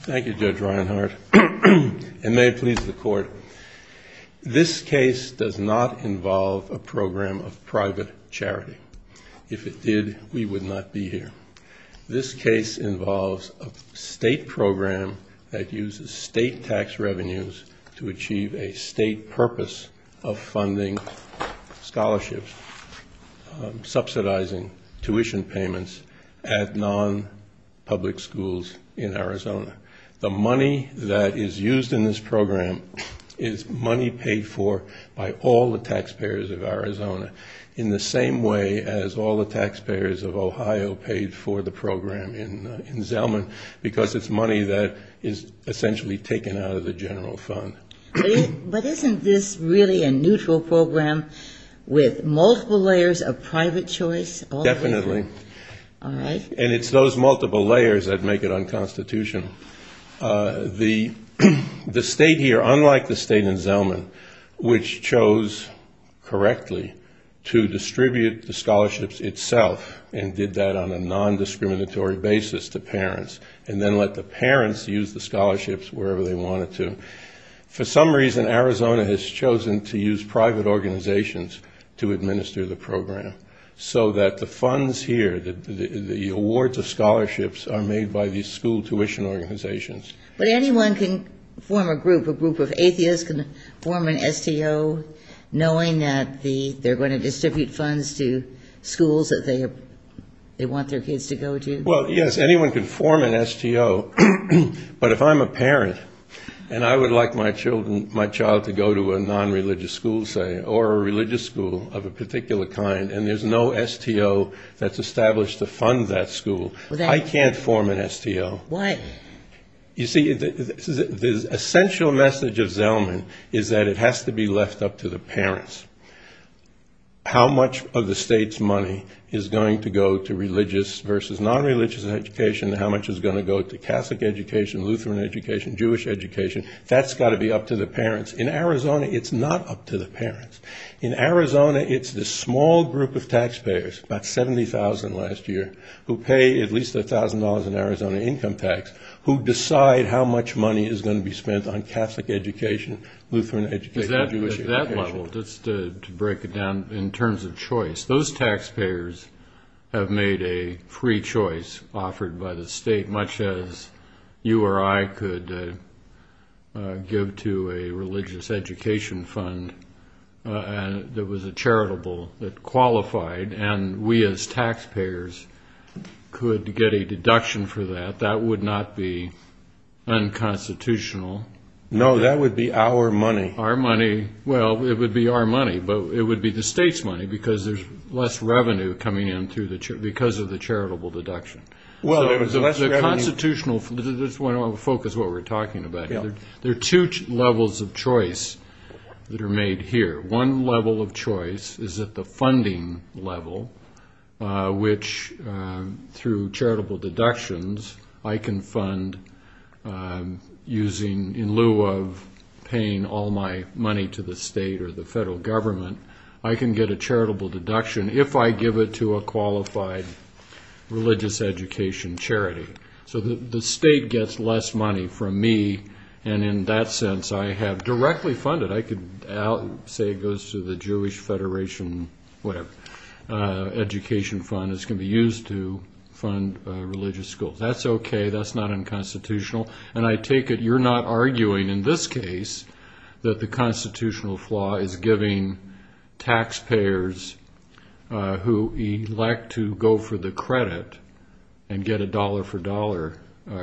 This case does not involve a program of private charity. If it did, we would not be here. This case involves a state program that uses state tax revenues to achieve a state purpose of funding scholarships, subsidizing tuition payments at non-public schools in Arizona. The money that is used in this program is money paid for by all the taxpayers of Arizona in the same way as all the taxpayers of Ohio paid for the program in Zellman because it's money that is essentially taken out of the general fund. But isn't this really a neutral program with multiple layers of private choice? Yes, definitely. And it's those multiple layers that make it unconstitutional. The state here, unlike the state in Zellman, which chose correctly to distribute the scholarships itself and did that on a non-discriminatory basis to parents and then let the parents use the scholarships wherever they wanted to, for some reason Arizona has chosen to use private organizations to administer the program. So that the funds here, the awards of scholarships are made by these school tuition organizations. But anyone can form a group, a group of atheists can form an STO knowing that they're going to distribute funds to schools that they want their kids to go to? Well, yes, anyone can form an STO. But if I'm a parent and I would like my child to go to a non-religious school, say, or a religious school of a particular kind, and there's no STO that's established to fund that school, I can't form an STO. Why? You see, the essential message of Zellman is that it has to be left up to the parents. How much of the state's money is going to go to religious versus non-religious education and how much is going to go to Catholic education, Lutheran education, Jewish education, that's got to be up to the parents. In Arizona, it's not up to the parents. In Arizona, it's the small group of taxpayers, about 70,000 last year, who pay at least $1,000 in Arizona income tax, who decide how much money is going to be spent on Catholic education, Lutheran education, Jewish education. Just to break it down in terms of choice, those taxpayers have made a free choice offered by the state, much as you or I could give to a religious education fund that was charitable, that qualified, and we as taxpayers could get a deduction for that. That would not be unconstitutional. No, that would be our money. Our money. Well, it would be our money, but it would be the state's money because there's less revenue coming in because of the charitable deduction. Well, there's less revenue. So what happens is at the funding level, which through charitable deductions, I can fund using, in lieu of paying all my money to the state or the federal government, I can get a charitable deduction if I give it to a qualified religious education charity. So the state gets less money from me, and in that sense, I have directly funded, I could say it goes to the Jewish Federation, whatever, education fund, it's going to be used to fund religious schools. That's okay. That's not unconstitutional. And I take it you're not arguing in this case that the constitutional flaw is giving taxpayers who elect to go for the credit and get a dollar-for-dollar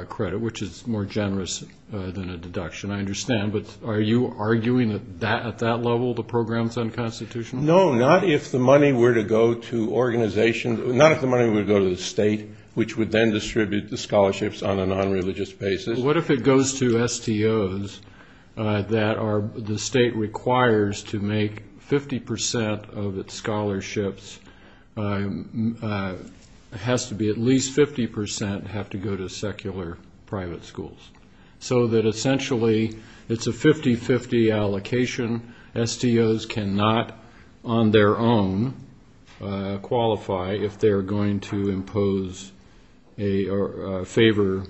credit, which is more generous than a deduction, I understand. But are you arguing that at that level the program's unconstitutional? No, not if the money were to go to organizations, not if the money were to go to the state, which would then distribute the scholarships on a non-religious basis. What if it goes to STOs that the state requires to make 50% of its scholarships, has to be at least 50% have to go to secular private schools? So that essentially it's a 50-50 allocation. STOs cannot, on their own, qualify if they're going to impose or favor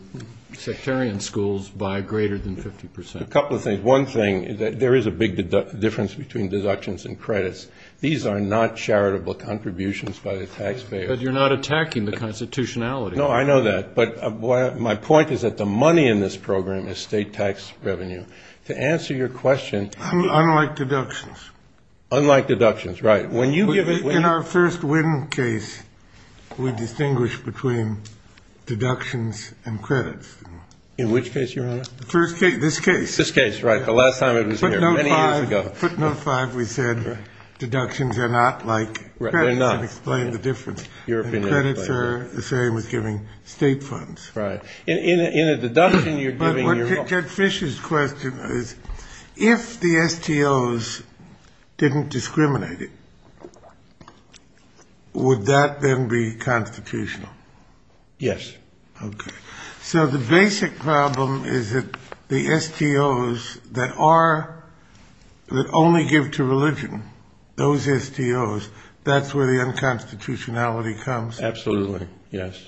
sectarian schools by greater than 50%. A couple of things. One thing, there is a big difference between deductions and credits. These are not charitable contributions by the taxpayers. But you're not attacking the constitutionality. No, I know that. But my point is that the money in this program is state tax revenue. To answer your question... Unlike deductions. Unlike deductions, right. When you give it... In our first Wynn case, we distinguish between deductions and credits. In which case, Your Honor? The first case, this case. This case, right, the last time it was here, many years ago. In footnote 5, we said deductions are not like credits and explain the difference. Credits are the same as giving state funds. Right. In a deduction, you're giving your... But Ted Fish's question is, if the STOs didn't discriminate it, would that then be constitutional? Yes. So the basic problem is that the STOs that only give to religion, those STOs, that's where the unconstitutionality comes? Absolutely, yes.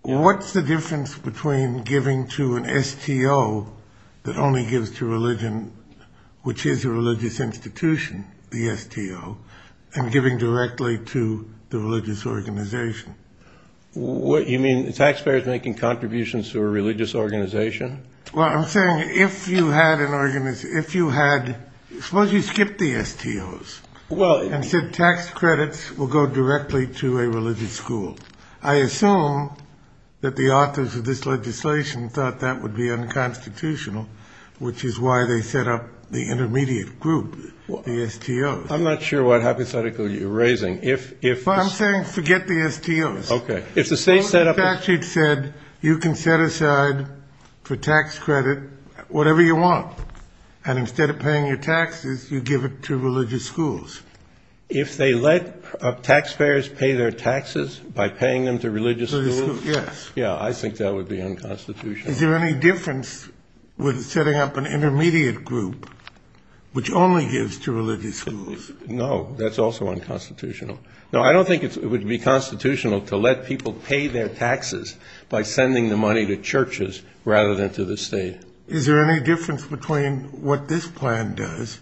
What's the difference between giving to an STO that only gives to religion, which is a religious institution, the STO, and giving directly to the religious organization? You mean the taxpayers making contributions to a religious organization? Well, I'm saying if you had an organization, if you had... Suppose you skipped the STOs and said tax credits will go directly to a religious school. I assume that the authors of this legislation thought that would be unconstitutional, which is why they set up the intermediate group, the STOs. I'm not sure what hypothetical you're raising. If... Okay. If the state set up... If the statute said you can set aside for tax credit whatever you want, and instead of paying your taxes, you give it to religious schools. If they let taxpayers pay their taxes by paying them to religious schools? Religious schools, yes. Yeah, I think that would be unconstitutional. Is there any difference with setting up an intermediate group, which only gives to religious schools? No, that's also unconstitutional. No, I don't think it would be constitutional to let people pay their taxes by sending the money to churches rather than to the state. Is there any difference between what this plan does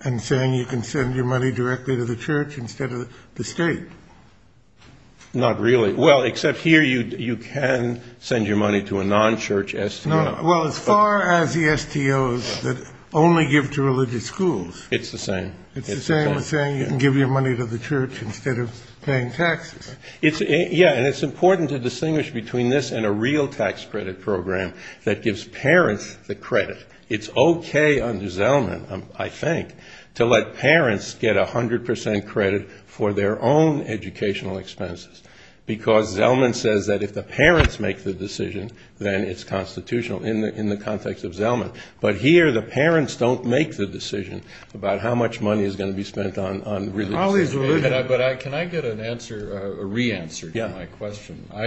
and saying you can send your money directly to the church instead of the state? Not really. Well, except here you can send your money to a non-church STO. Well, as far as the STOs that only give to religious schools... It's the same. It's the same as saying you can give your money to the church instead of paying taxes. Yeah, and it's important to distinguish between this and a real tax credit program that gives parents the credit. It's okay under Zellman, I think, to let parents get 100 percent credit for their own educational expenses, because Zellman says that if the parents make the decision, then it's constitutional in the context of Zellman. But here the parents don't make the decision about how much money is going to be spent on religious education. But can I get a re-answer to my question? Yeah.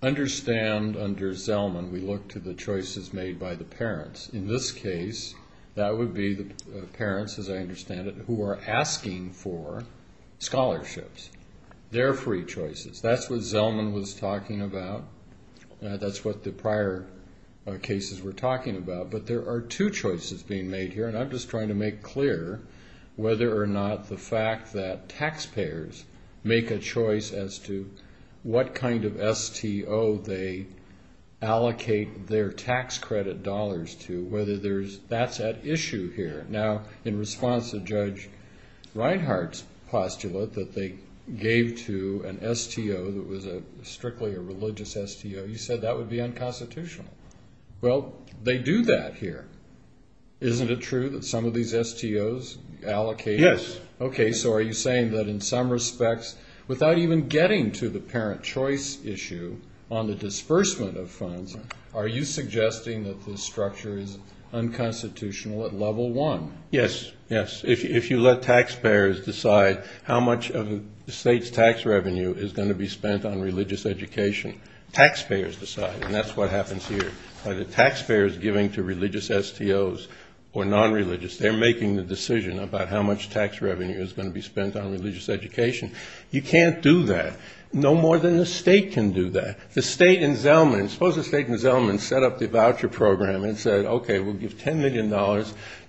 I understand under Zellman we look to the choices made by the parents. In this case, that would be the parents, as I understand it, who are asking for scholarships, their free choices. That's what Zellman was talking about. That's what the prior cases were talking about. But there are two choices being made here, and I'm just trying to make clear whether or not the fact that taxpayers make a choice as to what kind of STO they allocate their tax credit dollars to, whether that's at issue here. Now, in response to Judge Reinhart's postulate that they gave to an STO that was strictly a religious STO, you said that would be unconstitutional. Well, they do that here. Isn't it true that some of these STOs allocate? Yes. Okay, so are you saying that in some respects, without even getting to the parent choice issue on the disbursement of funds, are you suggesting that this structure is unconstitutional at level one? Yes, yes. If you let taxpayers decide how much of the state's tax revenue is going to be spent on religious education, taxpayers decide, and that's what happens here. Either taxpayers giving to religious STOs or nonreligious, they're making the decision about how much tax revenue is going to be spent on religious education. You can't do that. No more than the state can do that. The state in Zellman, suppose the state in Zellman set up the voucher program and said, okay, we'll give $10 million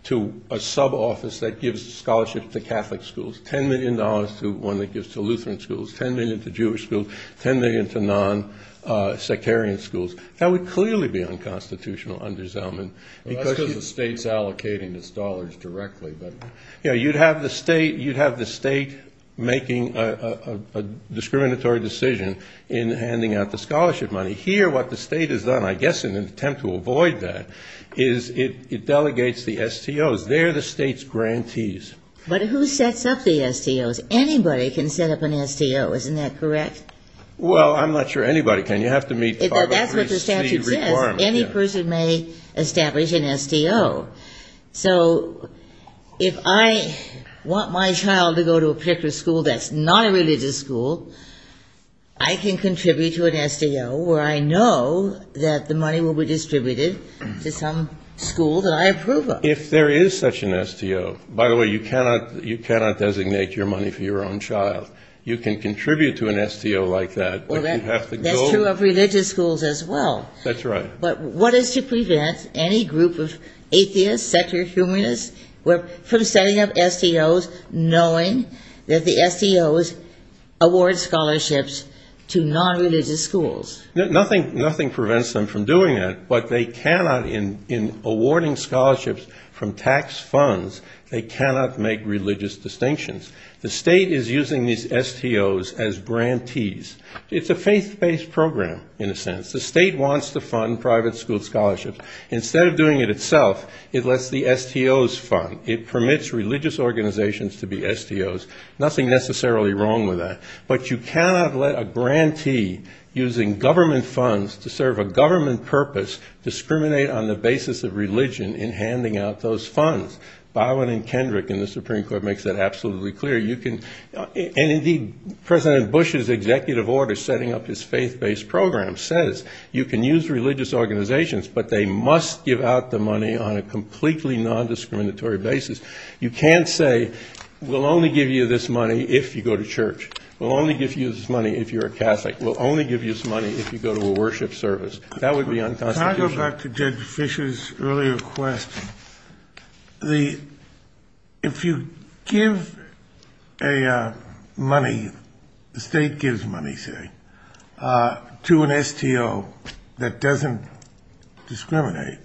to a sub-office that gives scholarships to Catholic schools, $10 million to one that gives to Lutheran schools, $10 million to Jewish schools, $10 million to non-sectarian schools. That would clearly be unconstitutional under Zellman. Well, that's because the state's allocating its dollars directly. You'd have the state making a discriminatory decision in handing out the scholarship money. Here what the state has done, I guess in an attempt to avoid that, is it delegates the STOs. They're the state's grantees. But who sets up the STOs? Anybody can set up an STO. Isn't that correct? Well, I'm not sure anybody can. You have to meet part of the ST requirement. That's what the statute says. Any person may establish an STO. So if I want my child to go to a particular school that's not a religious school, I can contribute to an STO where I know that the money will be distributed to some school that I approve of. If there is such an STO. By the way, you cannot designate your money for your own child. You can contribute to an STO like that. That's true of religious schools as well. That's right. But what is to prevent any group of atheists, secular humanists, from setting up STOs, knowing that the STOs award scholarships to nonreligious schools? Nothing prevents them from doing that. But they cannot, in awarding scholarships from tax funds, they cannot make religious distinctions. The state is using these STOs as grantees. It's a faith-based program, in a sense. The state wants to fund private school scholarships. Instead of doing it itself, it lets the STOs fund. It permits religious organizations to be STOs. Nothing necessarily wrong with that. But you cannot let a grantee using government funds to serve a government purpose discriminate on the basis of religion in handing out those funds. Byron and Kendrick in the Supreme Court makes that absolutely clear. And, indeed, President Bush's executive order setting up his faith-based program says you can use religious organizations, but they must give out the money on a completely nondiscriminatory basis. You can't say we'll only give you this money if you go to church. We'll only give you this money if you're a Catholic. We'll only give you this money if you go to a worship service. That would be unconstitutional. Can I go back to Judge Fisher's earlier question? If you give money, the state gives money, say, to an STO that doesn't discriminate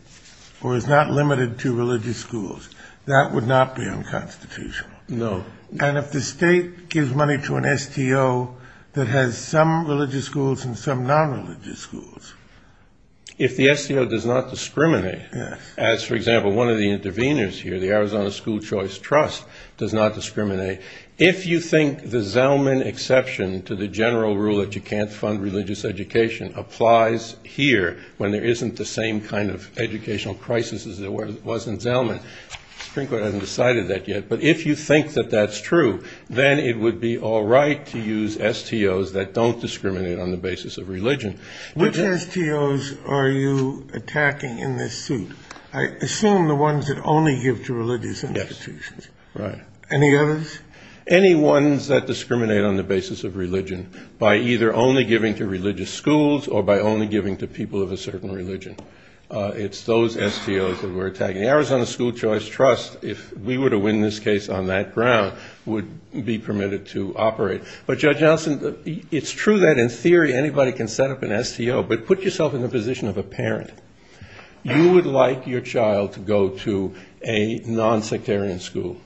or is not limited to religious schools, that would not be unconstitutional. No. And if the state gives money to an STO that has some religious schools and some nonreligious schools? If the STO does not discriminate, as, for example, one of the interveners here, the Arizona School Choice Trust, does not discriminate, if you think the Zelman exception to the general rule that you can't fund religious education applies here when there isn't the same kind of educational crisis as there was in Zelman, the Supreme Court hasn't decided that yet. But if you think that that's true, then it would be all right to use STOs that don't discriminate on the basis of religion. Which STOs are you attacking in this suit? I assume the ones that only give to religious institutions. Yes. Right. Any others? Any ones that discriminate on the basis of religion by either only giving to religious schools or by only giving to people of a certain religion. It's those STOs that we're attacking. The Arizona School Choice Trust, if we were to win this case on that ground, would be permitted to operate. But, Judge Nelson, it's true that in theory anybody can set up an STO, but put yourself in the position of a parent. You would like your child to go to a nonsectarian school.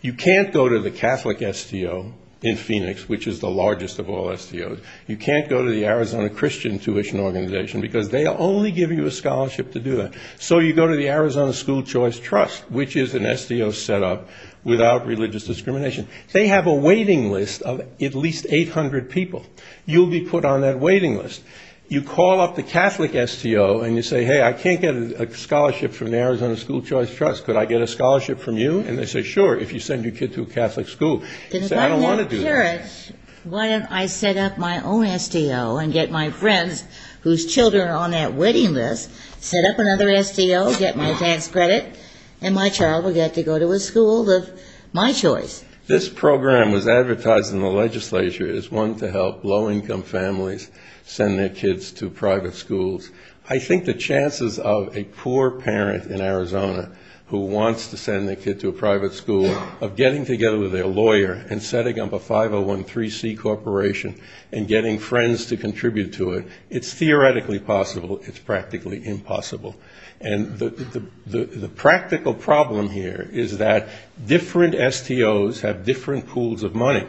You can't go to the Catholic STO in Phoenix, which is the largest of all STOs. You can't go to the Arizona Christian Tuition Organization because they only give you a scholarship to do that. So you go to the Arizona School Choice Trust, which is an STO set up without religious discrimination. They have a waiting list of at least 800 people. You'll be put on that waiting list. You call up the Catholic STO and you say, hey, I can't get a scholarship from the Arizona School Choice Trust. Could I get a scholarship from you? And they say, sure, if you send your kid to a Catholic school. You say, I don't want to do that. Then if I'm that parent, why don't I set up my own STO and get my friends whose children are on that waiting list, set up another STO, get my tax credit, and my child will get to go to a school of my choice. This program was advertised in the legislature as one to help low-income families send their kids to private schools. I think the chances of a poor parent in Arizona who wants to send their kid to a private school, of getting together with their lawyer and setting up a 5013C corporation and getting friends to contribute to it, it's theoretically possible. It's practically impossible. And the practical problem here is that different STOs have different pools of money.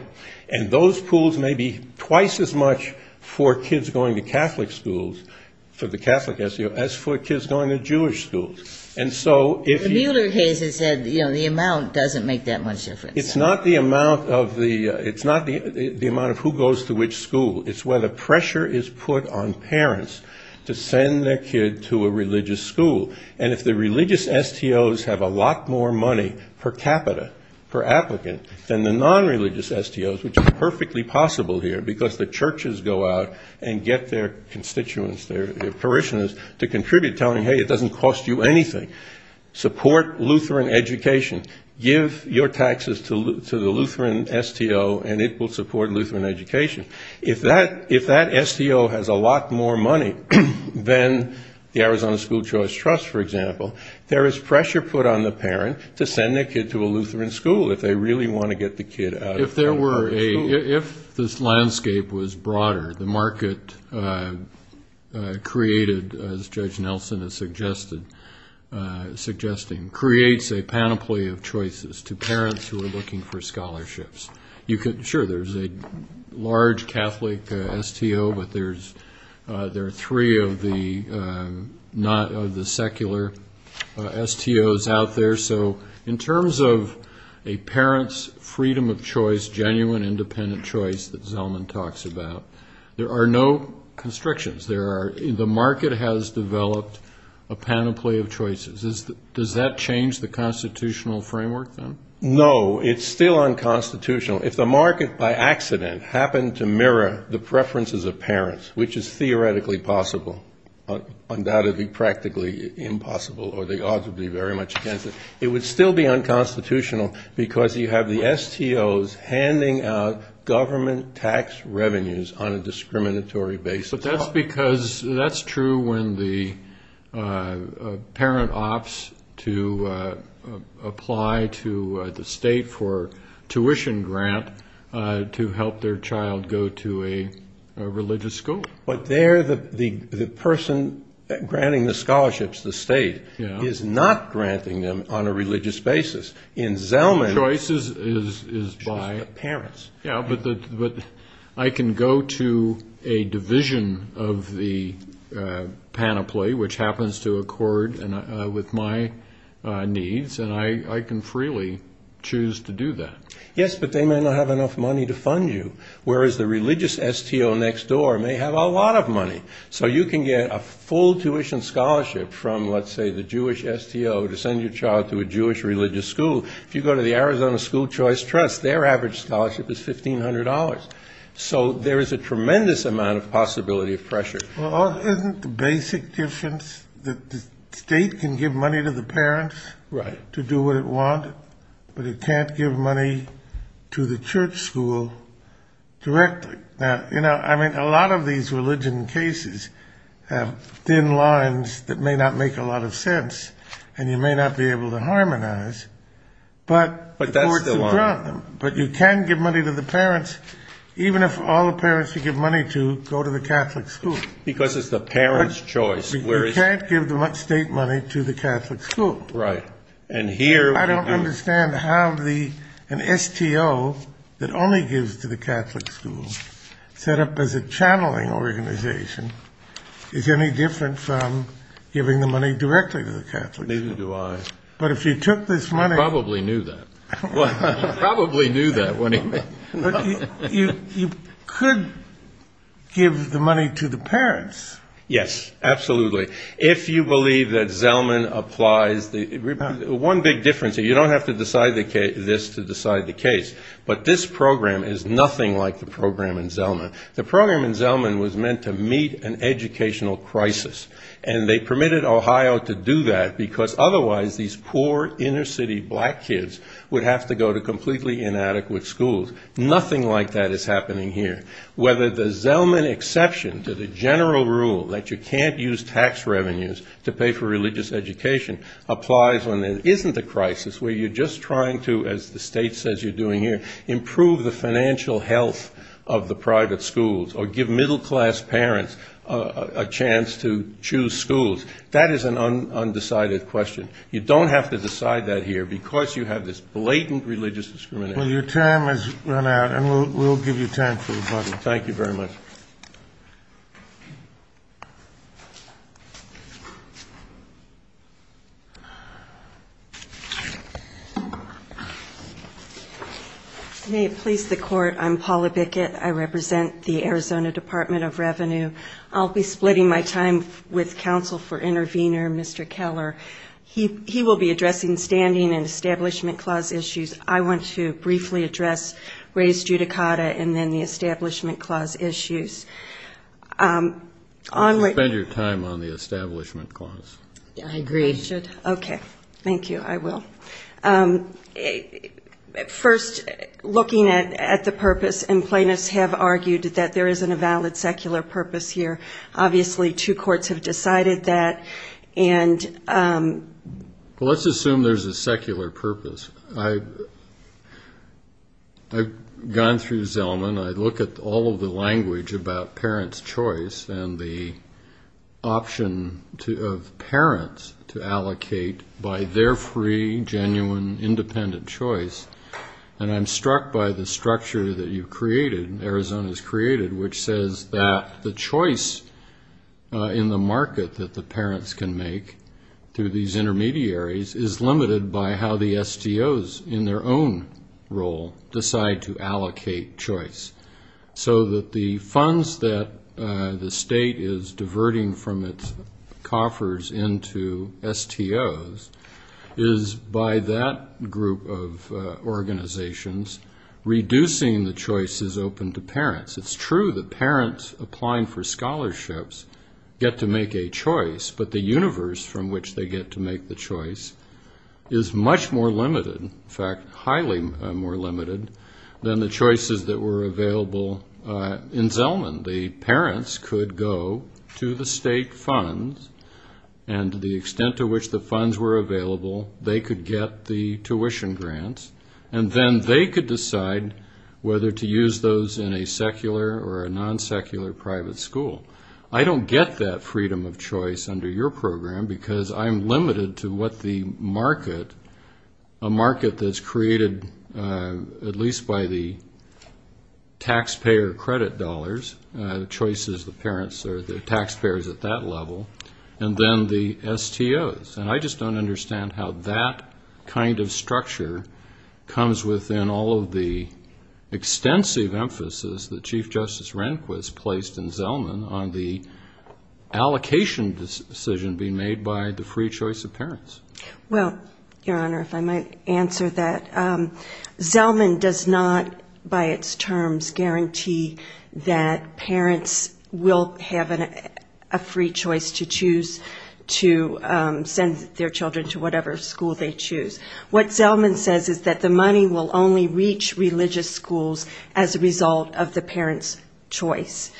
And those pools may be twice as much for kids going to Catholic schools, for the Catholic STO, as for kids going to Jewish schools. And so if you – The Mueller case has said, you know, the amount doesn't make that much difference. It's not the amount of who goes to which school. It's where the pressure is put on parents to send their kid to a religious school. And if the religious STOs have a lot more money per capita per applicant than the non-religious STOs, which is perfectly possible here, because the churches go out and get their constituents, their parishioners, to contribute, telling, hey, it doesn't cost you anything. Support Lutheran education. Give your taxes to the Lutheran STO, and it will support Lutheran education. If that STO has a lot more money than the Arizona School Choice Trust, for example, there is pressure put on the parent to send their kid to a Lutheran school if they really want to get the kid out. If there were a – if this landscape was broader, the market created, as Judge Nelson is suggesting, creates a panoply of choices to parents who are looking for scholarships. Sure, there's a large Catholic STO, but there are three of the secular STOs out there. So in terms of a parent's freedom of choice, genuine independent choice that Zellman talks about, there are no constrictions. There are – the market has developed a panoply of choices. Does that change the constitutional framework, then? No, it's still unconstitutional. If the market by accident happened to mirror the preferences of parents, which is theoretically possible, undoubtedly practically impossible, or the odds would be very much against it, it would still be unconstitutional, because you have the STOs handing out government tax revenues on a discriminatory basis. But that's because – that's true when the parent opts to apply to the state for tuition grant to help their child go to a religious school. But there the person granting the scholarships, the state, is not granting them on a religious basis. In Zellman's – Choices is by – Parents. Yeah, but I can go to a division of the panoply, which happens to accord with my needs, and I can freely choose to do that. Yes, but they may not have enough money to fund you, whereas the religious STO next door may have a lot of money. So you can get a full tuition scholarship from, let's say, the Jewish STO to send your child to a Jewish religious school. If you go to the Arizona School Choice Trust, their average scholarship is $1,500. So there is a tremendous amount of possibility of pressure. Well, isn't the basic difference that the state can give money to the parents to do what it wanted, but it can't give money to the church school directly? You know, I mean, a lot of these religion cases have thin lines that may not make a lot of sense, and you may not be able to harmonize, but you can give money to the parents, even if all the parents you give money to go to the Catholic school. Because it's the parent's choice. You can't give the state money to the Catholic school. Right, and here – I don't understand how an STO that only gives to the Catholic school, set up as a channeling organization, is any different from giving the money directly to the Catholic school. Neither do I. But if you took this money – He probably knew that. He probably knew that when he – You could give the money to the parents. Yes, absolutely. If you believe that Zellman applies – one big difference, you don't have to decide this to decide the case, but this program is nothing like the program in Zellman. The program in Zellman was meant to meet an educational crisis, and they permitted Ohio to do that because otherwise these poor inner city black kids would have to go to completely inadequate schools. Nothing like that is happening here. Whether the Zellman exception to the general rule that you can't use tax revenues to pay for religious education applies when there isn't a crisis where you're just trying to, as the state says you're doing here, improve the financial health of the private schools or give middle class parents a chance to choose schools. That is an undecided question. You don't have to decide that here because you have this blatant religious discrimination. Well, your time has run out, and we'll give you time for rebuttal. Thank you very much. May it please the Court, I'm Paula Bickett. I represent the Arizona Department of Revenue. I'll be splitting my time with counsel for intervener, Mr. Keller. He will be addressing standing and establishment clause issues. I want to briefly address race judicata and then the establishment clause issues. Spend your time on the establishment clause. I agree. Okay. Thank you. I will. First, looking at the purpose, and plaintiffs have argued that there isn't a valid secular purpose here. Obviously two courts have decided that. Well, let's assume there's a secular purpose. I've gone through Zelman. I look at all of the language about parents' choice and the option of parents to allocate by their free, genuine, independent choice, and I'm struck by the structure that you've created, Arizona's created, which says that the choice in the market that the parents can make through these intermediaries is limited by how the STOs in their own role decide to allocate choice. So that the funds that the state is diverting from its coffers into STOs is, by that group of organizations, reducing the choices open to parents. It's true that parents applying for scholarships get to make a choice, but the universe from which they get to make the choice is much more limited, in fact highly more limited than the choices that were available in Zelman. The parents could go to the state funds, and to the extent to which the funds were available, they could get the tuition grants, and then they could decide whether to use those in a secular or a non-secular private school. I don't get that freedom of choice under your program, because I'm limited to what the market, a market that's created at least by the taxpayer credit dollars, the choices the parents or the taxpayers at that level, and then the STOs. And I just don't understand how that kind of structure comes within all of the extensive emphasis that Chief Justice Rehnquist placed in Zelman on the allocation decision being made by the free choice of parents. Well, Your Honor, if I might answer that. Zelman does not, by its terms, guarantee that parents will have a free choice to choose, to send their children to whatever school they choose. What Zelman says is that the money will only reach religious schools as a result of the parents' choice.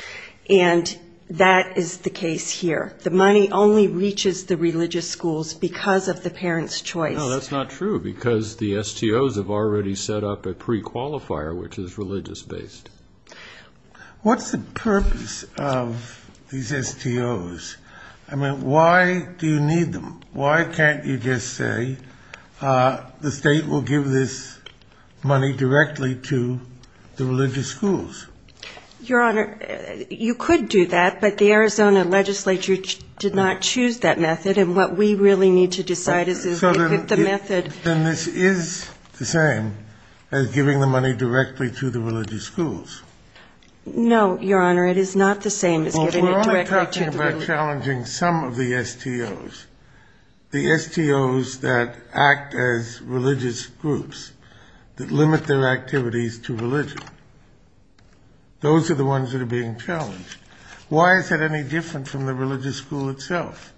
And that is the case here. The money only reaches the religious schools because of the parents' choice. Well, that's not true, because the STOs have already set up a prequalifier, which is religious-based. What's the purpose of these STOs? I mean, why do you need them? Why can't you just say the state will give this money directly to the religious schools? Your Honor, you could do that, but the Arizona legislature did not choose that method, and what we really need to decide is if we pick the method. So then this is the same as giving the money directly to the religious schools? No, Your Honor, it is not the same as giving it directly to the religious schools. Well, if we're only talking about challenging some of the STOs, the STOs that act as religious groups that limit their activities to religion, those are the ones that are being challenged. Why is that any different from the religious school itself?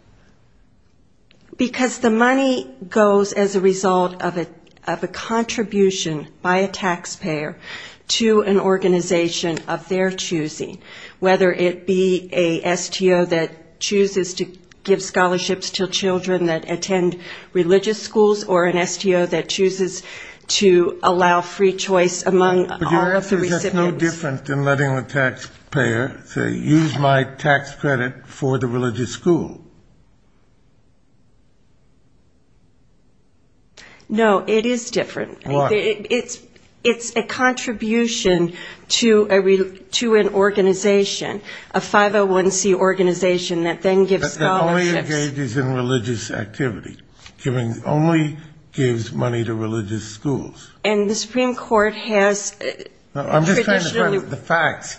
Because the money goes as a result of a contribution by a taxpayer to an organization of their choosing, whether it be a STO that chooses to give scholarships to children that attend religious schools or an STO that chooses to allow free choice among all of the recipients. So it's no different than letting the taxpayer say, use my tax credit for the religious school. No, it is different. Why? It's a contribution to an organization, a 501C organization that then gives scholarships. But that only engages in religious activity, only gives money to religious schools. And the Supreme Court has traditionally... I'm just trying to find the facts.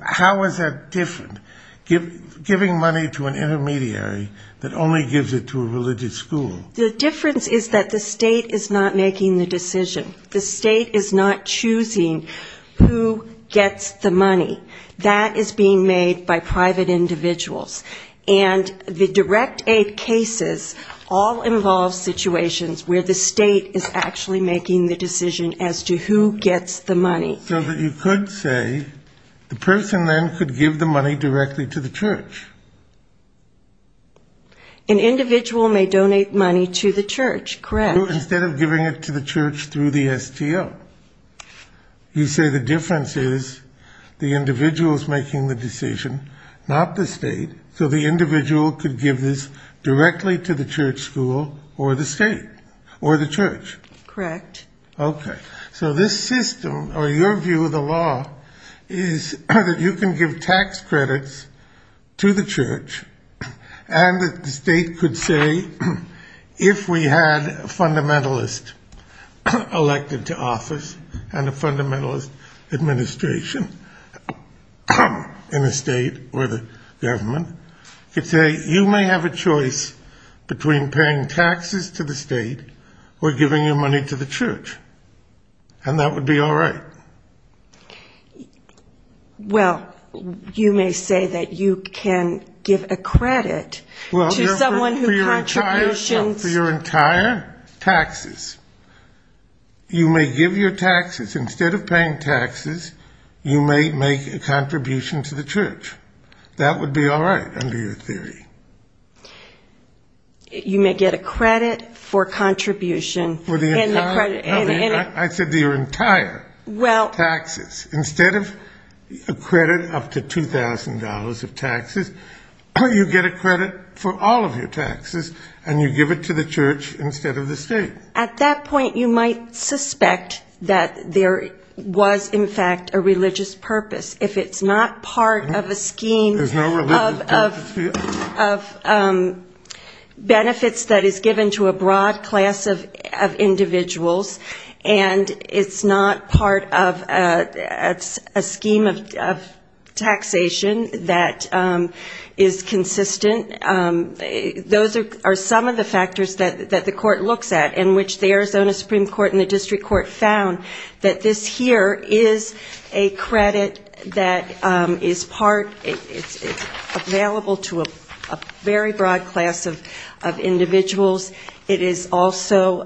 How is that different, giving money to an intermediary that only gives it to a religious school? The difference is that the state is not making the decision. The state is not choosing who gets the money. That is being made by private individuals. And the direct aid cases all involve situations where the state is actually making the decision as to who gets the money. So that you could say the person then could give the money directly to the church. An individual may donate money to the church, correct. Instead of giving it to the church through the STO. You say the difference is the individual is making the decision, not the state. So the individual could give this directly to the church school or the state or the church. Correct. Okay. So this system, or your view of the law, is that you can give tax credits to the church. And the state could say, if we had a fundamentalist elected to office and a fundamentalist administration in the state or the government, you could say you may have a choice between paying taxes to the state or giving your money to the church. And that would be all right. Well, you may say that you can give a credit to someone who contributions. For your entire taxes. You may give your taxes. Instead of paying taxes, you may make a contribution to the church. That would be all right under your theory. You may get a credit for contribution. I said your entire. Well. Taxes. Instead of a credit up to $2,000 of taxes, you get a credit for all of your taxes, and you give it to the church instead of the state. At that point, you might suspect that there was, in fact, a religious purpose. If it's not part of a scheme of benefits that is given to a broad class of individuals, and it's not part of a scheme of taxation that is consistent, those are some of the factors that the court looks at, in which the Arizona Supreme Court and the district court found that this here is a credit that is part, it's available to a very broad class of individuals. It is also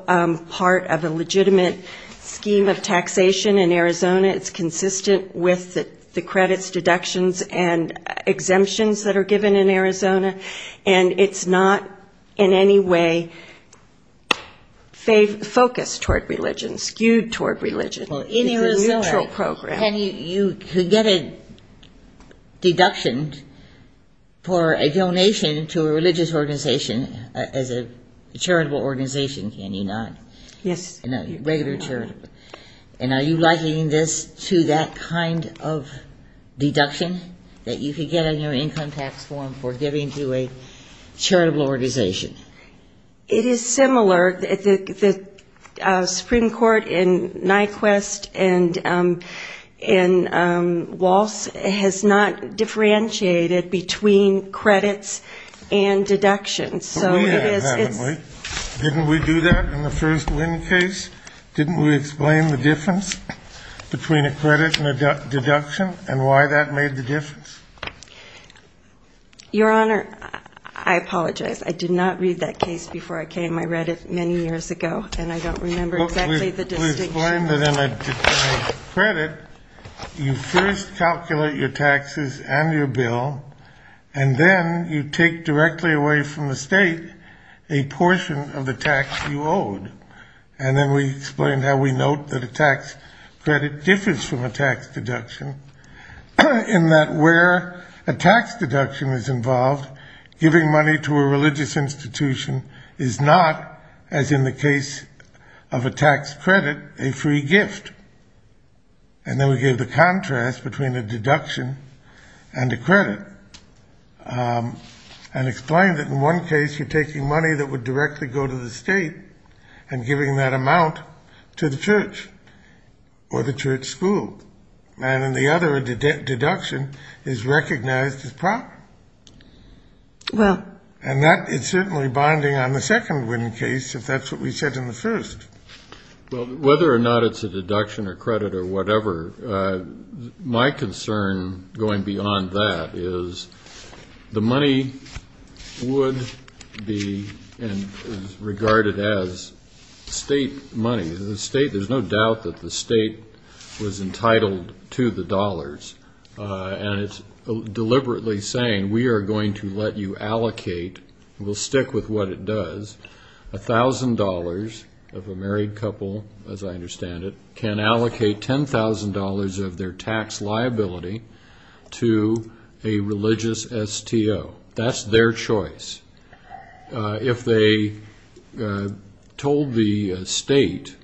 part of a legitimate scheme of taxation in Arizona. It's consistent with the credits, deductions, and exemptions that are given in Arizona, and it's not in any way focused toward religion, skewed toward religion. It's a neutral program. You could get a deduction for a donation to a religious organization as a charitable organization, can you not? Yes. Regular charitable. And are you likening this to that kind of deduction that you could get on your income tax form for giving to a charitable organization? It is similar. The Supreme Court in Nyquist and in Walsh has not differentiated between credits and deductions. Didn't we do that in the first wind case? Didn't we explain the difference between a credit and a deduction and why that made the difference? Your Honor, I apologize. I did not read that case before I came. I read it many years ago, and I don't remember exactly the distinction. We explained that in a credit, you first calculate your taxes and your bill, and then you take directly away from the state a portion of the tax you owed. And then we explained how we note that a tax credit differs from a tax deduction in that where a tax deduction is involved, giving money to a religious institution is not, as in the case of a tax credit, a free gift. And then we gave the contrast between a deduction and a credit and explained that in one case you're taking money that would directly go to the state and giving that amount to the church or the church school, and in the other a deduction is recognized as proper. And that is certainly bonding on the second wind case, if that's what we said in the first. Well, whether or not it's a deduction or credit or whatever, my concern going beyond that is the money would be regarded as state money. There's no doubt that the state was entitled to the dollars, and it's deliberately saying we are going to let you allocate, we'll stick with what it does, $1,000 of a married couple, as I understand it, can allocate $10,000 of their tax liability to a religious STO. That's their choice. If they told the state,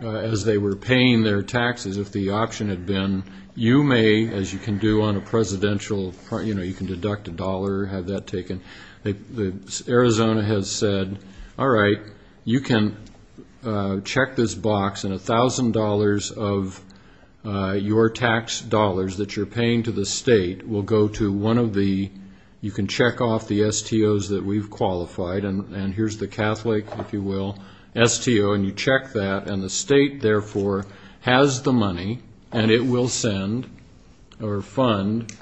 as they were paying their taxes, if the option had been, you may, as you can do on a presidential, you know, you can deduct a dollar, have that taken, Arizona has said, all right, you can check this box and $1,000 of your tax dollars that you're paying to the state will go to one of the, you can check off the STOs that we've qualified, and here's the Catholic, if you will, STO, and you check that and the state, therefore, has the money and it will send or fund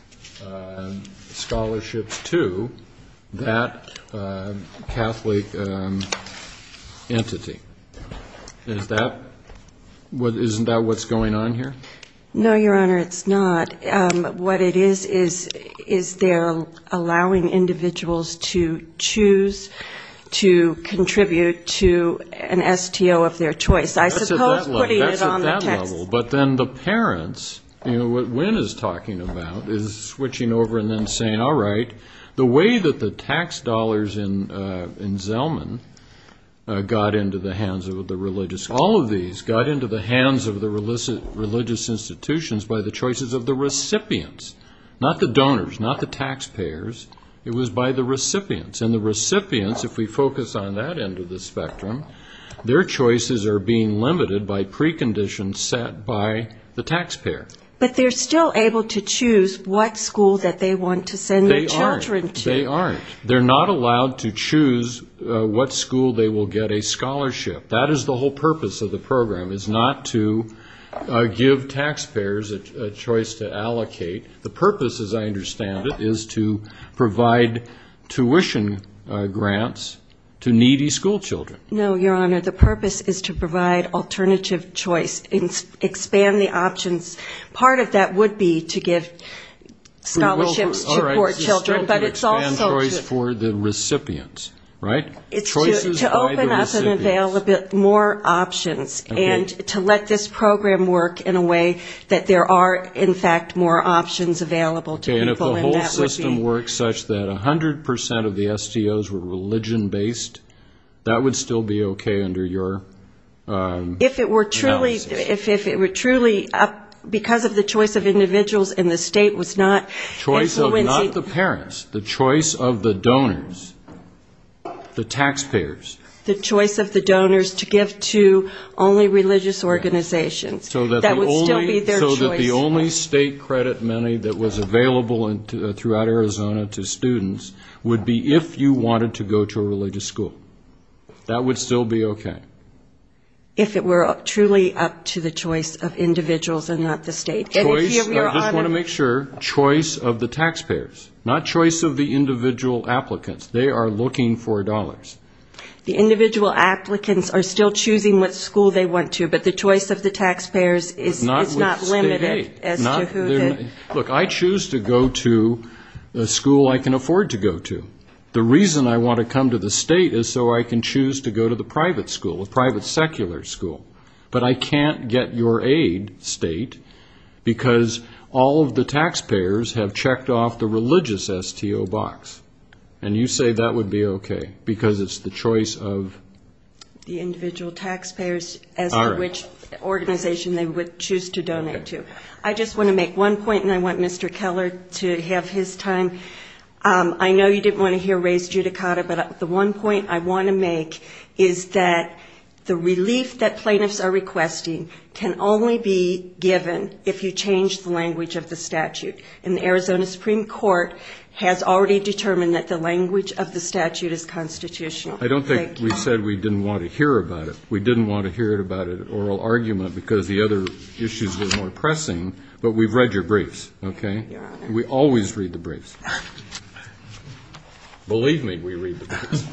scholarships to that Catholic entity. Isn't that what's going on here? No, Your Honor, it's not. What it is is they're allowing individuals to choose to contribute to an STO of their choice. I suppose putting it on the text. But then the parents, you know, what Wynn is talking about is switching over and then saying, all right, the way that the tax dollars in Zellman got into the hands of the religious, all of these got into the hands of the religious institutions by the choices of the recipients, not the donors, not the taxpayers. It was by the recipients, and the recipients, if we focus on that end of the spectrum, their choices are being limited by preconditions set by the taxpayer. But they're still able to choose what school that they want to send their children to. They aren't. They're not allowed to choose what school they will get a scholarship. That is the whole purpose of the program, is not to give taxpayers a choice to allocate. The purpose, as I understand it, is to provide tuition grants to needy school children. No, Your Honor, the purpose is to provide alternative choice, expand the options. Part of that would be to give scholarships to poor children, but it's also to open up and avail the poor. More options, and to let this program work in a way that there are, in fact, more options available to people. Okay, and if the whole system works such that 100% of the STOs were religion-based, that would still be okay under your analysis? If it were truly, because of the choice of individuals and the state was not influencing. Choice of not the parents, the choice of the donors, the taxpayers. The choice of the donors to give to only religious organizations, that would still be their choice. So that the only state credit money that was available throughout Arizona to students would be if you wanted to go to a religious school. That would still be okay. If it were truly up to the choice of individuals and not the state. Choice, I just want to make sure, choice of the taxpayers, not choice of the individual applicants. They are looking for dollars. The individual applicants are still choosing what school they want to, but the choice of the taxpayers is not limited. Look, I choose to go to a school I can afford to go to. The reason I want to come to the state is so I can choose to go to the private school, a private secular school. But I can't get your aid, state, because all of the taxpayers have checked off the religious STO box. And you say that would be okay, because it's the choice of... The individual taxpayers as to which organization they would choose to donate to. I just want to make one point, and I want Mr. Keller to have his time. I know you didn't want to hear Ray's judicata, but the one point I want to make is that the relief that plaintiffs are requesting can only be given if you change the language of the statute. And the Arizona Supreme Court has already determined that the language of the statute is constitutional. Thank you. I don't think we said we didn't want to hear about it. We didn't want to hear about it at oral argument because the other issues were more pressing, but we've read your briefs, okay? We always read the briefs. Believe me, we read the briefs.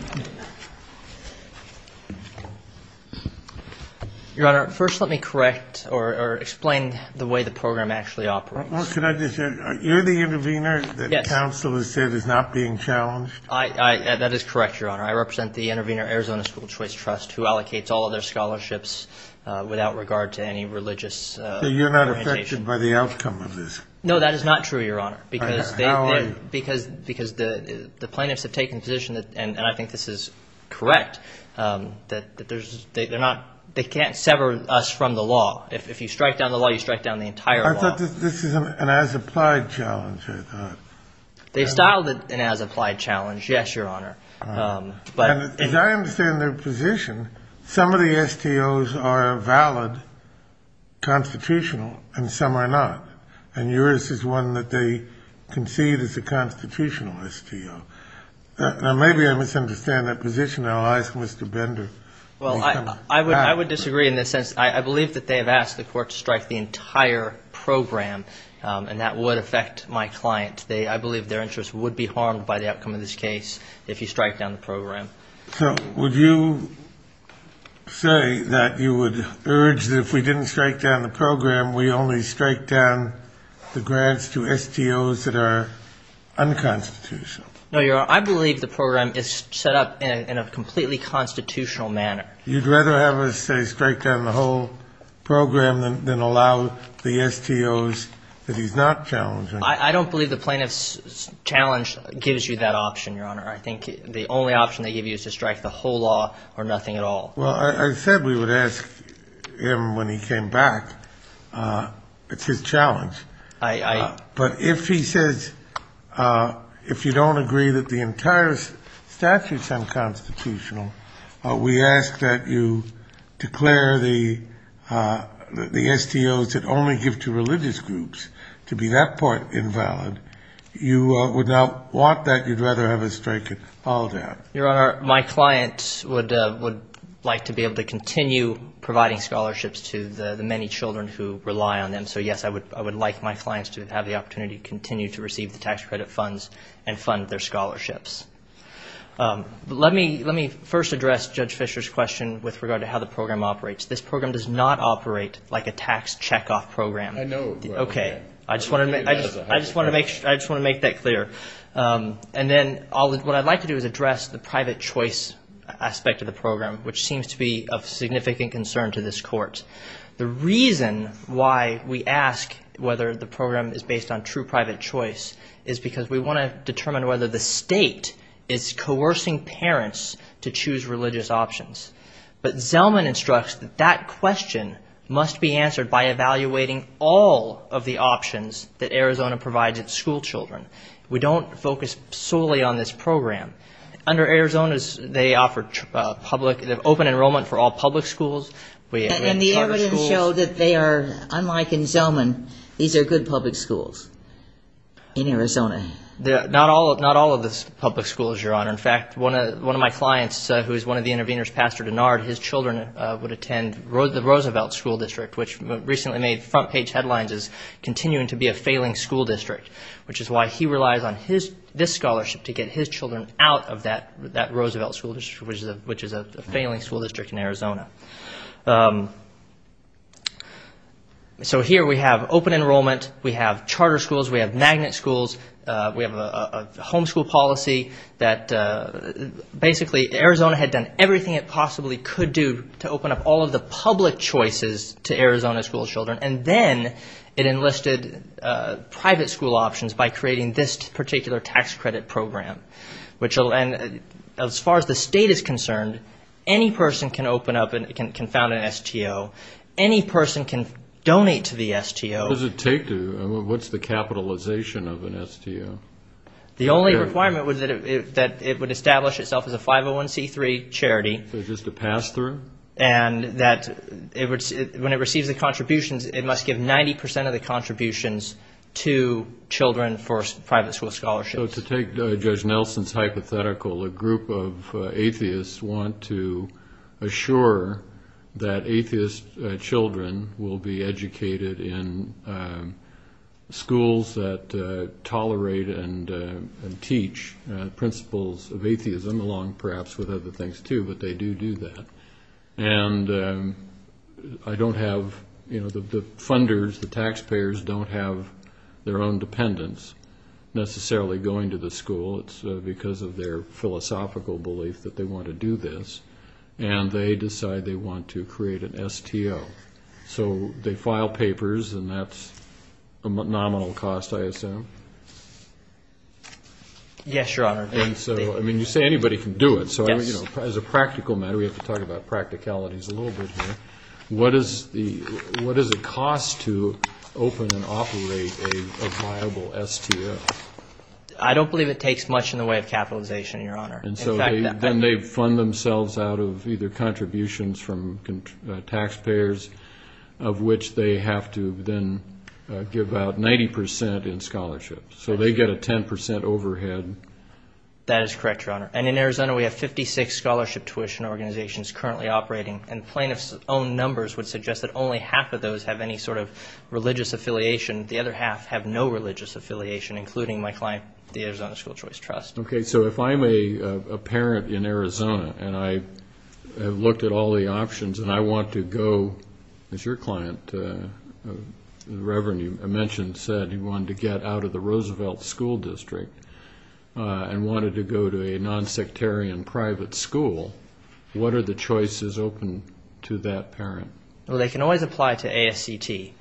Your Honor, first let me correct or explain the way the program actually operates. Can I just add, you're the intervener that counsel has said is not being challenged? That is correct, Your Honor. I represent the Intervener Arizona School Choice Trust, who allocates all of their scholarships without regard to any religious orientation. So you're not affected by the outcome of this? No, that is not true, Your Honor. How are you? Because the plaintiffs have taken the position, and I think this is correct, that they can't sever us from the law. If you strike down the law, you strike down the entire law. I thought this is an as-applied challenge, I thought. They've styled it an as-applied challenge, yes, Your Honor. As I understand their position, some of the STOs are valid, constitutional, and some are not. And yours is one that they concede is a constitutional STO. Now, maybe I misunderstand that position. I'll ask Mr. Bender. Well, I would disagree in this sense. I believe that they have asked the court to strike the entire program, and that would affect my client. I believe their interest would be harmed by the outcome of this case if you strike down the program. So would you say that you would urge that if we didn't strike down the program, we only strike down the grants to STOs that are unconstitutional? No, Your Honor. I believe the program is set up in a completely constitutional manner. You'd rather have us, say, strike down the whole program than allow the STOs that he's not challenging? I don't believe the plaintiff's challenge gives you that option, Your Honor. I think the only option they give you is to strike the whole law or nothing at all. Well, I said we would ask him when he came back. It's his challenge. But if he says if you don't agree that the entire statute's unconstitutional, we ask that you declare the STOs that only give to religious groups to be that part invalid, you would not want that. You'd rather have us strike it all down. Your Honor, my client would like to be able to continue providing scholarships to the many children who rely on them. So, yes, I would like my clients to have the opportunity to continue to receive the tax credit funds and fund their scholarships. Let me first address Judge Fischer's question with regard to how the program operates. This program does not operate like a tax checkoff program. I know. Okay. I just want to make that clear. And then what I'd like to do is address the private choice aspect of the program, which seems to be of significant concern to this Court. The reason why we ask whether the program is based on true private choice is because we want to determine whether the state is coercing parents to choose religious options. But Zellman instructs that that question must be answered by evaluating all of the options that Arizona provides its school children. We don't focus solely on this program. Under Arizona, they offer open enrollment for all public schools. And the evidence showed that they are, unlike in Zellman, these are good public schools in Arizona. Not all of the public schools, Your Honor. In fact, one of my clients who is one of the interveners, Pastor Denard, his children would attend the Roosevelt School District, which recently made front page headlines as continuing to be a failing school district, which is why he relies on this scholarship to get his children out of that Roosevelt School District, which is a failing school district in Arizona. So here we have open enrollment. We have charter schools. We have magnet schools. We have a homeschool policy that basically Arizona had done everything it possibly could do to open up all of the public choices to Arizona school children, and then it enlisted private school options by creating this particular tax credit program. And as far as the state is concerned, any person can open up and can found an STO. Any person can donate to the STO. What does it take to? What's the capitalization of an STO? The only requirement was that it would establish itself as a 501c3 charity. So just a pass-through? And that when it receives the contributions, it must give 90% of the contributions to children for private school scholarships. So to take Judge Nelson's hypothetical, a group of atheists want to assure that atheist children will be educated in schools that tolerate and teach principles of atheism along perhaps with other things too, but they do do that. And I don't have, you know, the funders, the taxpayers don't have their own dependents necessarily going to the school. It's because of their philosophical belief that they want to do this, and they decide they want to create an STO. So they file papers, and that's a nominal cost, I assume? Yes, Your Honor. And so, I mean, you say anybody can do it. Yes. As a practical matter, we have to talk about practicalities a little bit here, what is the cost to open and operate a viable STO? I don't believe it takes much in the way of capitalization, Your Honor. And so then they fund themselves out of either contributions from taxpayers, of which they have to then give out 90% in scholarships. So they get a 10% overhead. That is correct, Your Honor. And in Arizona, we have 56 scholarship tuition organizations currently operating, and plaintiff's own numbers would suggest that only half of those have any sort of religious affiliation. The other half have no religious affiliation, including my client, the Arizona School Choice Trust. Okay, so if I'm a parent in Arizona, and I have looked at all the options, and I want to go, as your client, Reverend, you mentioned, said he wanted to get out of the Roosevelt School District and wanted to go to a nonsectarian private school, what are the choices open to that parent? Well, they can always apply to ASCT.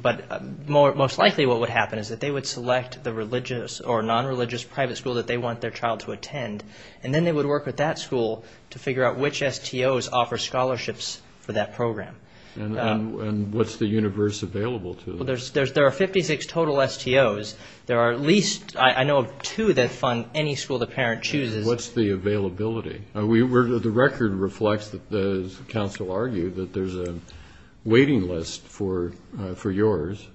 But most likely what would happen is that they would select the religious or nonreligious private school that they want their child to attend, and then they would work with that school to figure out which STOs offer scholarships for that program. And what's the universe available to them? Well, there are 56 total STOs. There are at least, I know, two that fund any school the parent chooses. What's the availability? The record reflects, as counsel argued, that there's a waiting list for yours.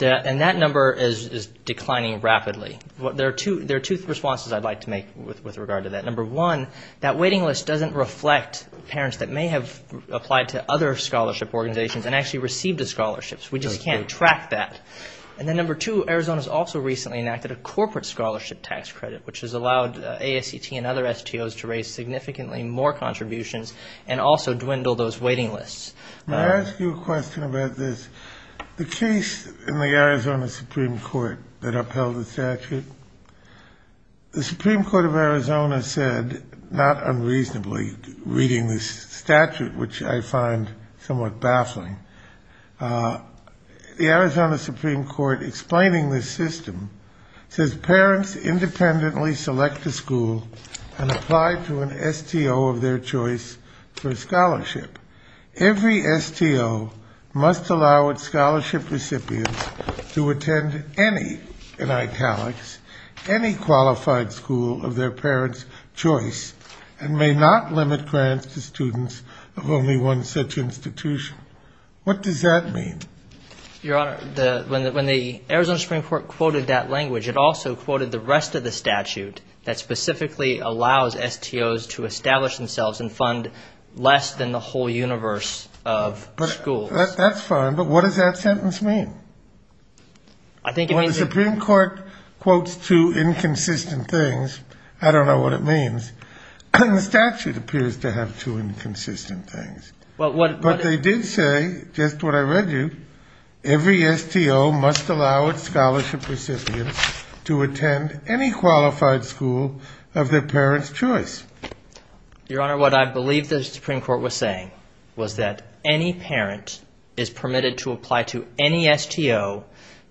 And that number is declining rapidly. There are two responses I'd like to make with regard to that. Number one, that waiting list doesn't reflect parents that may have applied to other scholarship organizations and actually received the scholarships. We just can't track that. And then number two, Arizona's also recently enacted a corporate scholarship tax credit, which has allowed ASCT and other STOs to raise significantly more contributions and also dwindle those waiting lists. May I ask you a question about this? The case in the Arizona Supreme Court that upheld the statute, the Supreme Court of Arizona said, not unreasonably, reading this statute, which I find somewhat baffling, the Arizona Supreme Court explaining this system says parents independently select a school and apply to an STO of their choice for a scholarship. Every STO must allow its scholarship recipients to attend any, in italics, any qualified school of their parents' choice and may not limit grants to students of only one such institution. What does that mean? Your Honor, when the Arizona Supreme Court quoted that language, it also quoted the rest of the statute that specifically allows STOs to establish themselves and fund less than the whole universe of schools. That's fine, but what does that sentence mean? Well, the Supreme Court quotes two inconsistent things. I don't know what it means. The statute appears to have two inconsistent things. But they did say, just what I read you, every STO must allow its scholarship recipients to attend any qualified school of their parents' choice. Your Honor, what I believe the Supreme Court was saying was that any parent is permitted to apply to any STO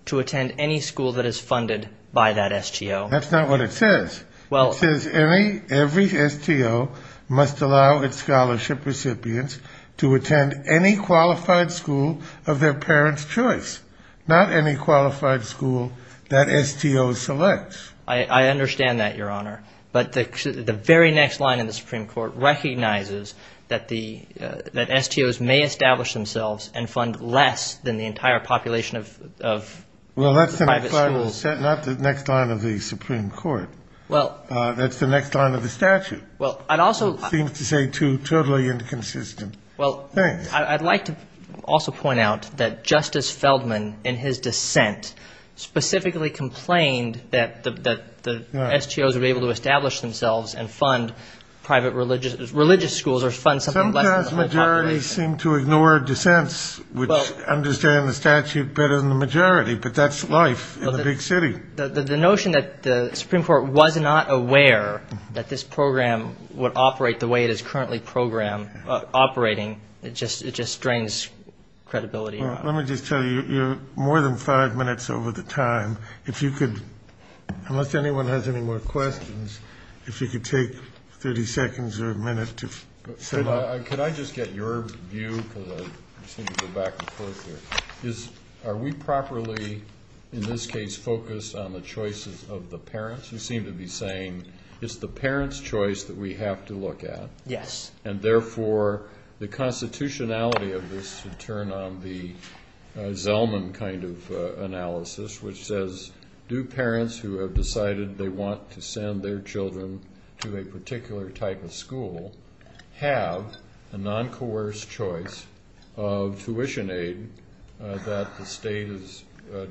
to attend any school that is funded by that STO. That's not what it says. It says every STO must allow its scholarship recipients to attend any qualified school of their parents' choice, not any qualified school that STO selects. I understand that, Your Honor. But the very next line in the Supreme Court recognizes that STOs may establish themselves and fund less than the entire population of private schools. Well, that's the next line of the statute. It seems to say two totally inconsistent things. I'd like to also point out that Justice Feldman, in his dissent, specifically complained that the STOs would be able to establish themselves and fund private religious schools or fund something less than the whole population. Sometimes majorities seem to ignore dissents, which understand the statute better than the majority. But that's life in a big city. The notion that the Supreme Court was not aware that this program would operate the way it is currently operating, it just drains credibility. Let me just tell you, you're more than five minutes over the time. If you could, unless anyone has any more questions, if you could take 30 seconds or a minute to set up. Could I just get your view, because I seem to go back and forth here. Are we properly, in this case, focused on the choices of the parents? You seem to be saying it's the parents' choice that we have to look at. Yes. And, therefore, the constitutionality of this would turn on the Zellman kind of analysis, which says do parents who have decided they want to send their children to a particular type of school have a non-coerced choice of tuition aid that the state is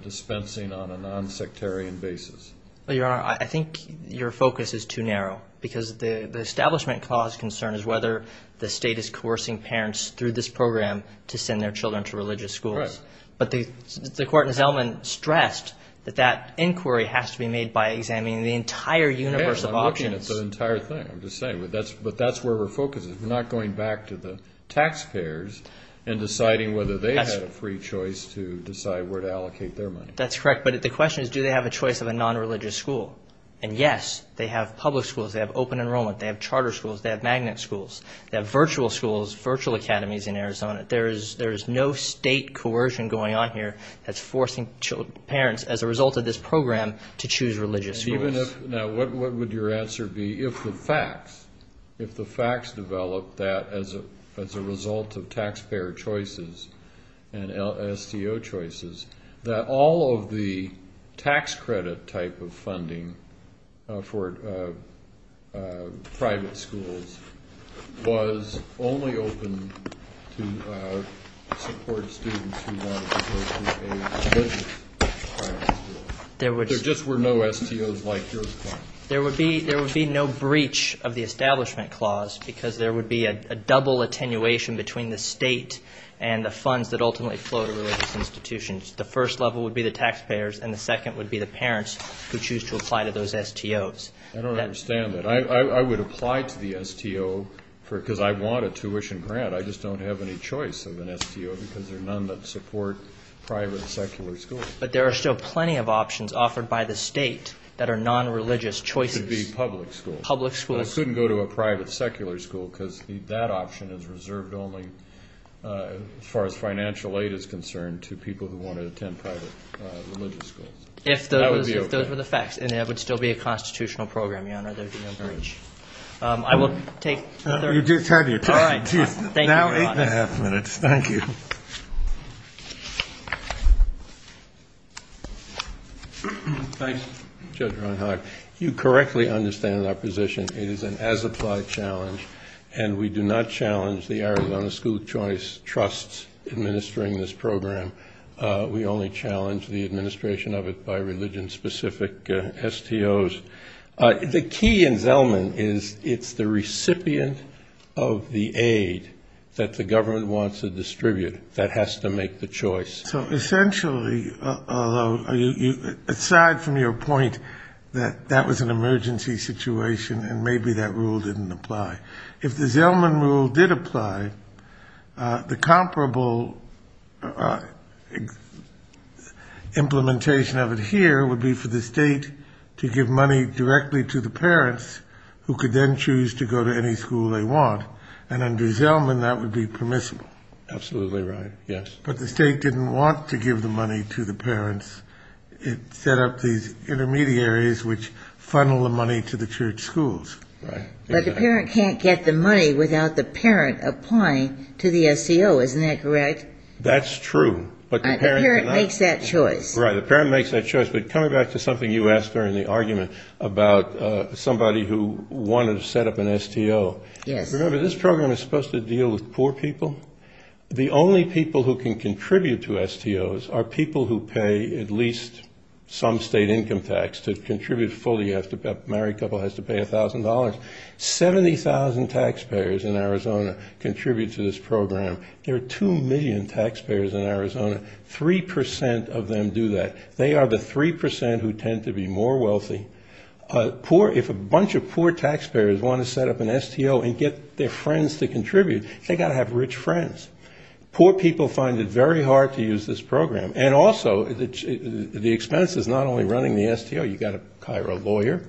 dispensing on a non-sectarian basis? Well, Your Honor, I think your focus is too narrow, because the establishment-caused concern is whether the state is coercing parents through this program to send their children to religious schools. Correct. But the court in Zellman stressed that that inquiry has to be made by examining the entire universe of options. Yes, I'm looking at the entire thing. I'm just saying, but that's where our focus is. We're not going back to the taxpayers and deciding whether they have a free choice to decide where to allocate their money. That's correct. But the question is do they have a choice of a non-religious school? And, yes, they have public schools. They have open enrollment. They have charter schools. They have magnet schools. They have virtual schools, virtual academies in Arizona. There is no state coercion going on here that's forcing parents, as a result of this program, to choose religious schools. Now, what would your answer be if the facts developed that, as a result of taxpayer choices and STO choices, that all of the tax credit type of funding for private schools was only open to support students who wanted to go to a religious private school? There just were no STOs like yours. There would be no breach of the establishment clause because there would be a double attenuation between the state and the funds that ultimately flow to religious institutions. The first level would be the taxpayers and the second would be the parents who choose to apply to those STOs. I don't understand that. I would apply to the STO because I want a tuition grant. I just don't have any choice of an STO because there are none that support private secular schools. But there are still plenty of options offered by the state that are non-religious choices. It could be public schools. Public schools. Well, it shouldn't go to a private secular school because that option is reserved only, as far as financial aid is concerned, to people who want to attend private religious schools. That would be okay. If those were the facts and there would still be a constitutional program, Your Honor, there would be no breach. I will take the third. You just heard your third. All right. Thank you, Your Honor. Now eight and a half minutes. Thank you. Thanks, Judge Reinhart. You correctly understand our position. It is an as-applied challenge, and we do not challenge the Arizona School Choice Trusts administering this program. We only challenge the administration of it by religion-specific STOs. The key in Zelman is it's the recipient of the aid that the government wants to distribute that has to make the choice. So essentially, aside from your point that that was an emergency situation and maybe that rule didn't apply, if the Zelman rule did apply, the comparable implementation of it here would be for the state to give money directly to the parents who could then choose to go to any school they want, and under Zelman that would be permissible. Absolutely right, yes. But the state didn't want to give the money to the parents. It set up these intermediaries which funnel the money to the church schools. Right. But the parent can't get the money without the parent applying to the STO. Isn't that correct? That's true. But the parent cannot. The parent makes that choice. Right. The parent makes that choice. But coming back to something you asked during the argument about somebody who wanted to set up an STO. Yes. Remember, this program is supposed to deal with poor people. The only people who can contribute to STOs are people who pay at least some state income tax to contribute fully. A married couple has to pay $1,000. 70,000 taxpayers in Arizona contribute to this program. There are 2 million taxpayers in Arizona. Three percent of them do that. They are the three percent who tend to be more wealthy. If a bunch of poor taxpayers want to set up an STO and get their friends to contribute, they've got to have rich friends. Poor people find it very hard to use this program. And also, the expense is not only running the STO. You've got to hire a lawyer.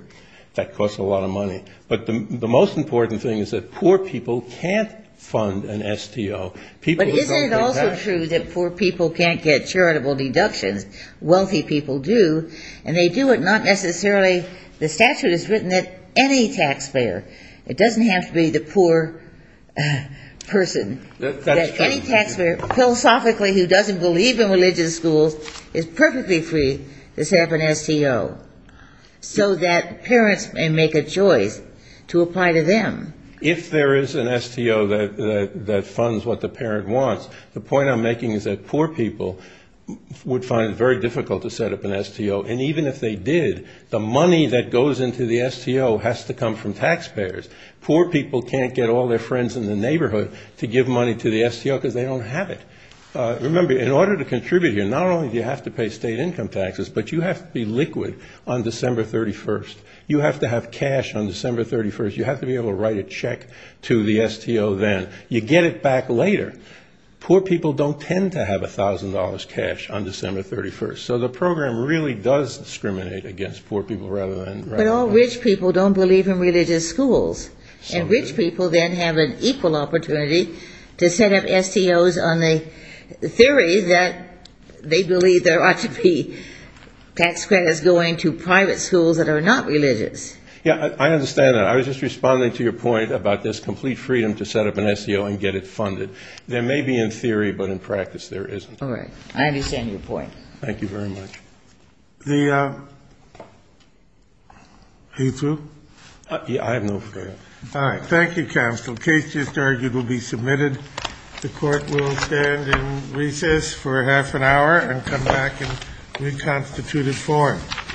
That costs a lot of money. But the most important thing is that poor people can't fund an STO. But isn't it also true that poor people can't get charitable deductions? Wealthy people do. And they do it not necessarily the statute is written that any taxpayer, it doesn't have to be the poor person, that any taxpayer philosophically who doesn't believe in religious schools is perfectly free to set up an STO, so that parents may make a choice to apply to them. If there is an STO that funds what the parent wants, the point I'm making is that poor people would find it very difficult to set up an STO. And even if they did, the money that goes into the STO has to come from taxpayers. Poor people can't get all their friends in the neighborhood to give money to the STO because they don't have it. Remember, in order to contribute here, not only do you have to pay state income taxes, but you have to be liquid on December 31st. You have to have cash on December 31st. You have to be able to write a check to the STO then. You get it back later. Poor people don't tend to have $1,000 cash on December 31st. So the program really does discriminate against poor people rather than... But all rich people don't believe in religious schools. And rich people then have an equal opportunity to set up STOs on the theory that they believe there ought to be tax credits going to private schools that are not religious. Yeah, I understand that. I was just responding to your point about this complete freedom to set up an STO and get it funded. There may be in theory, but in practice there isn't. All right. I understand your point. Thank you very much. Are you through? I have no further... All right. Thank you, counsel. Case just argued will be submitted. The court will stand in recess for half an hour and come back in reconstituted form.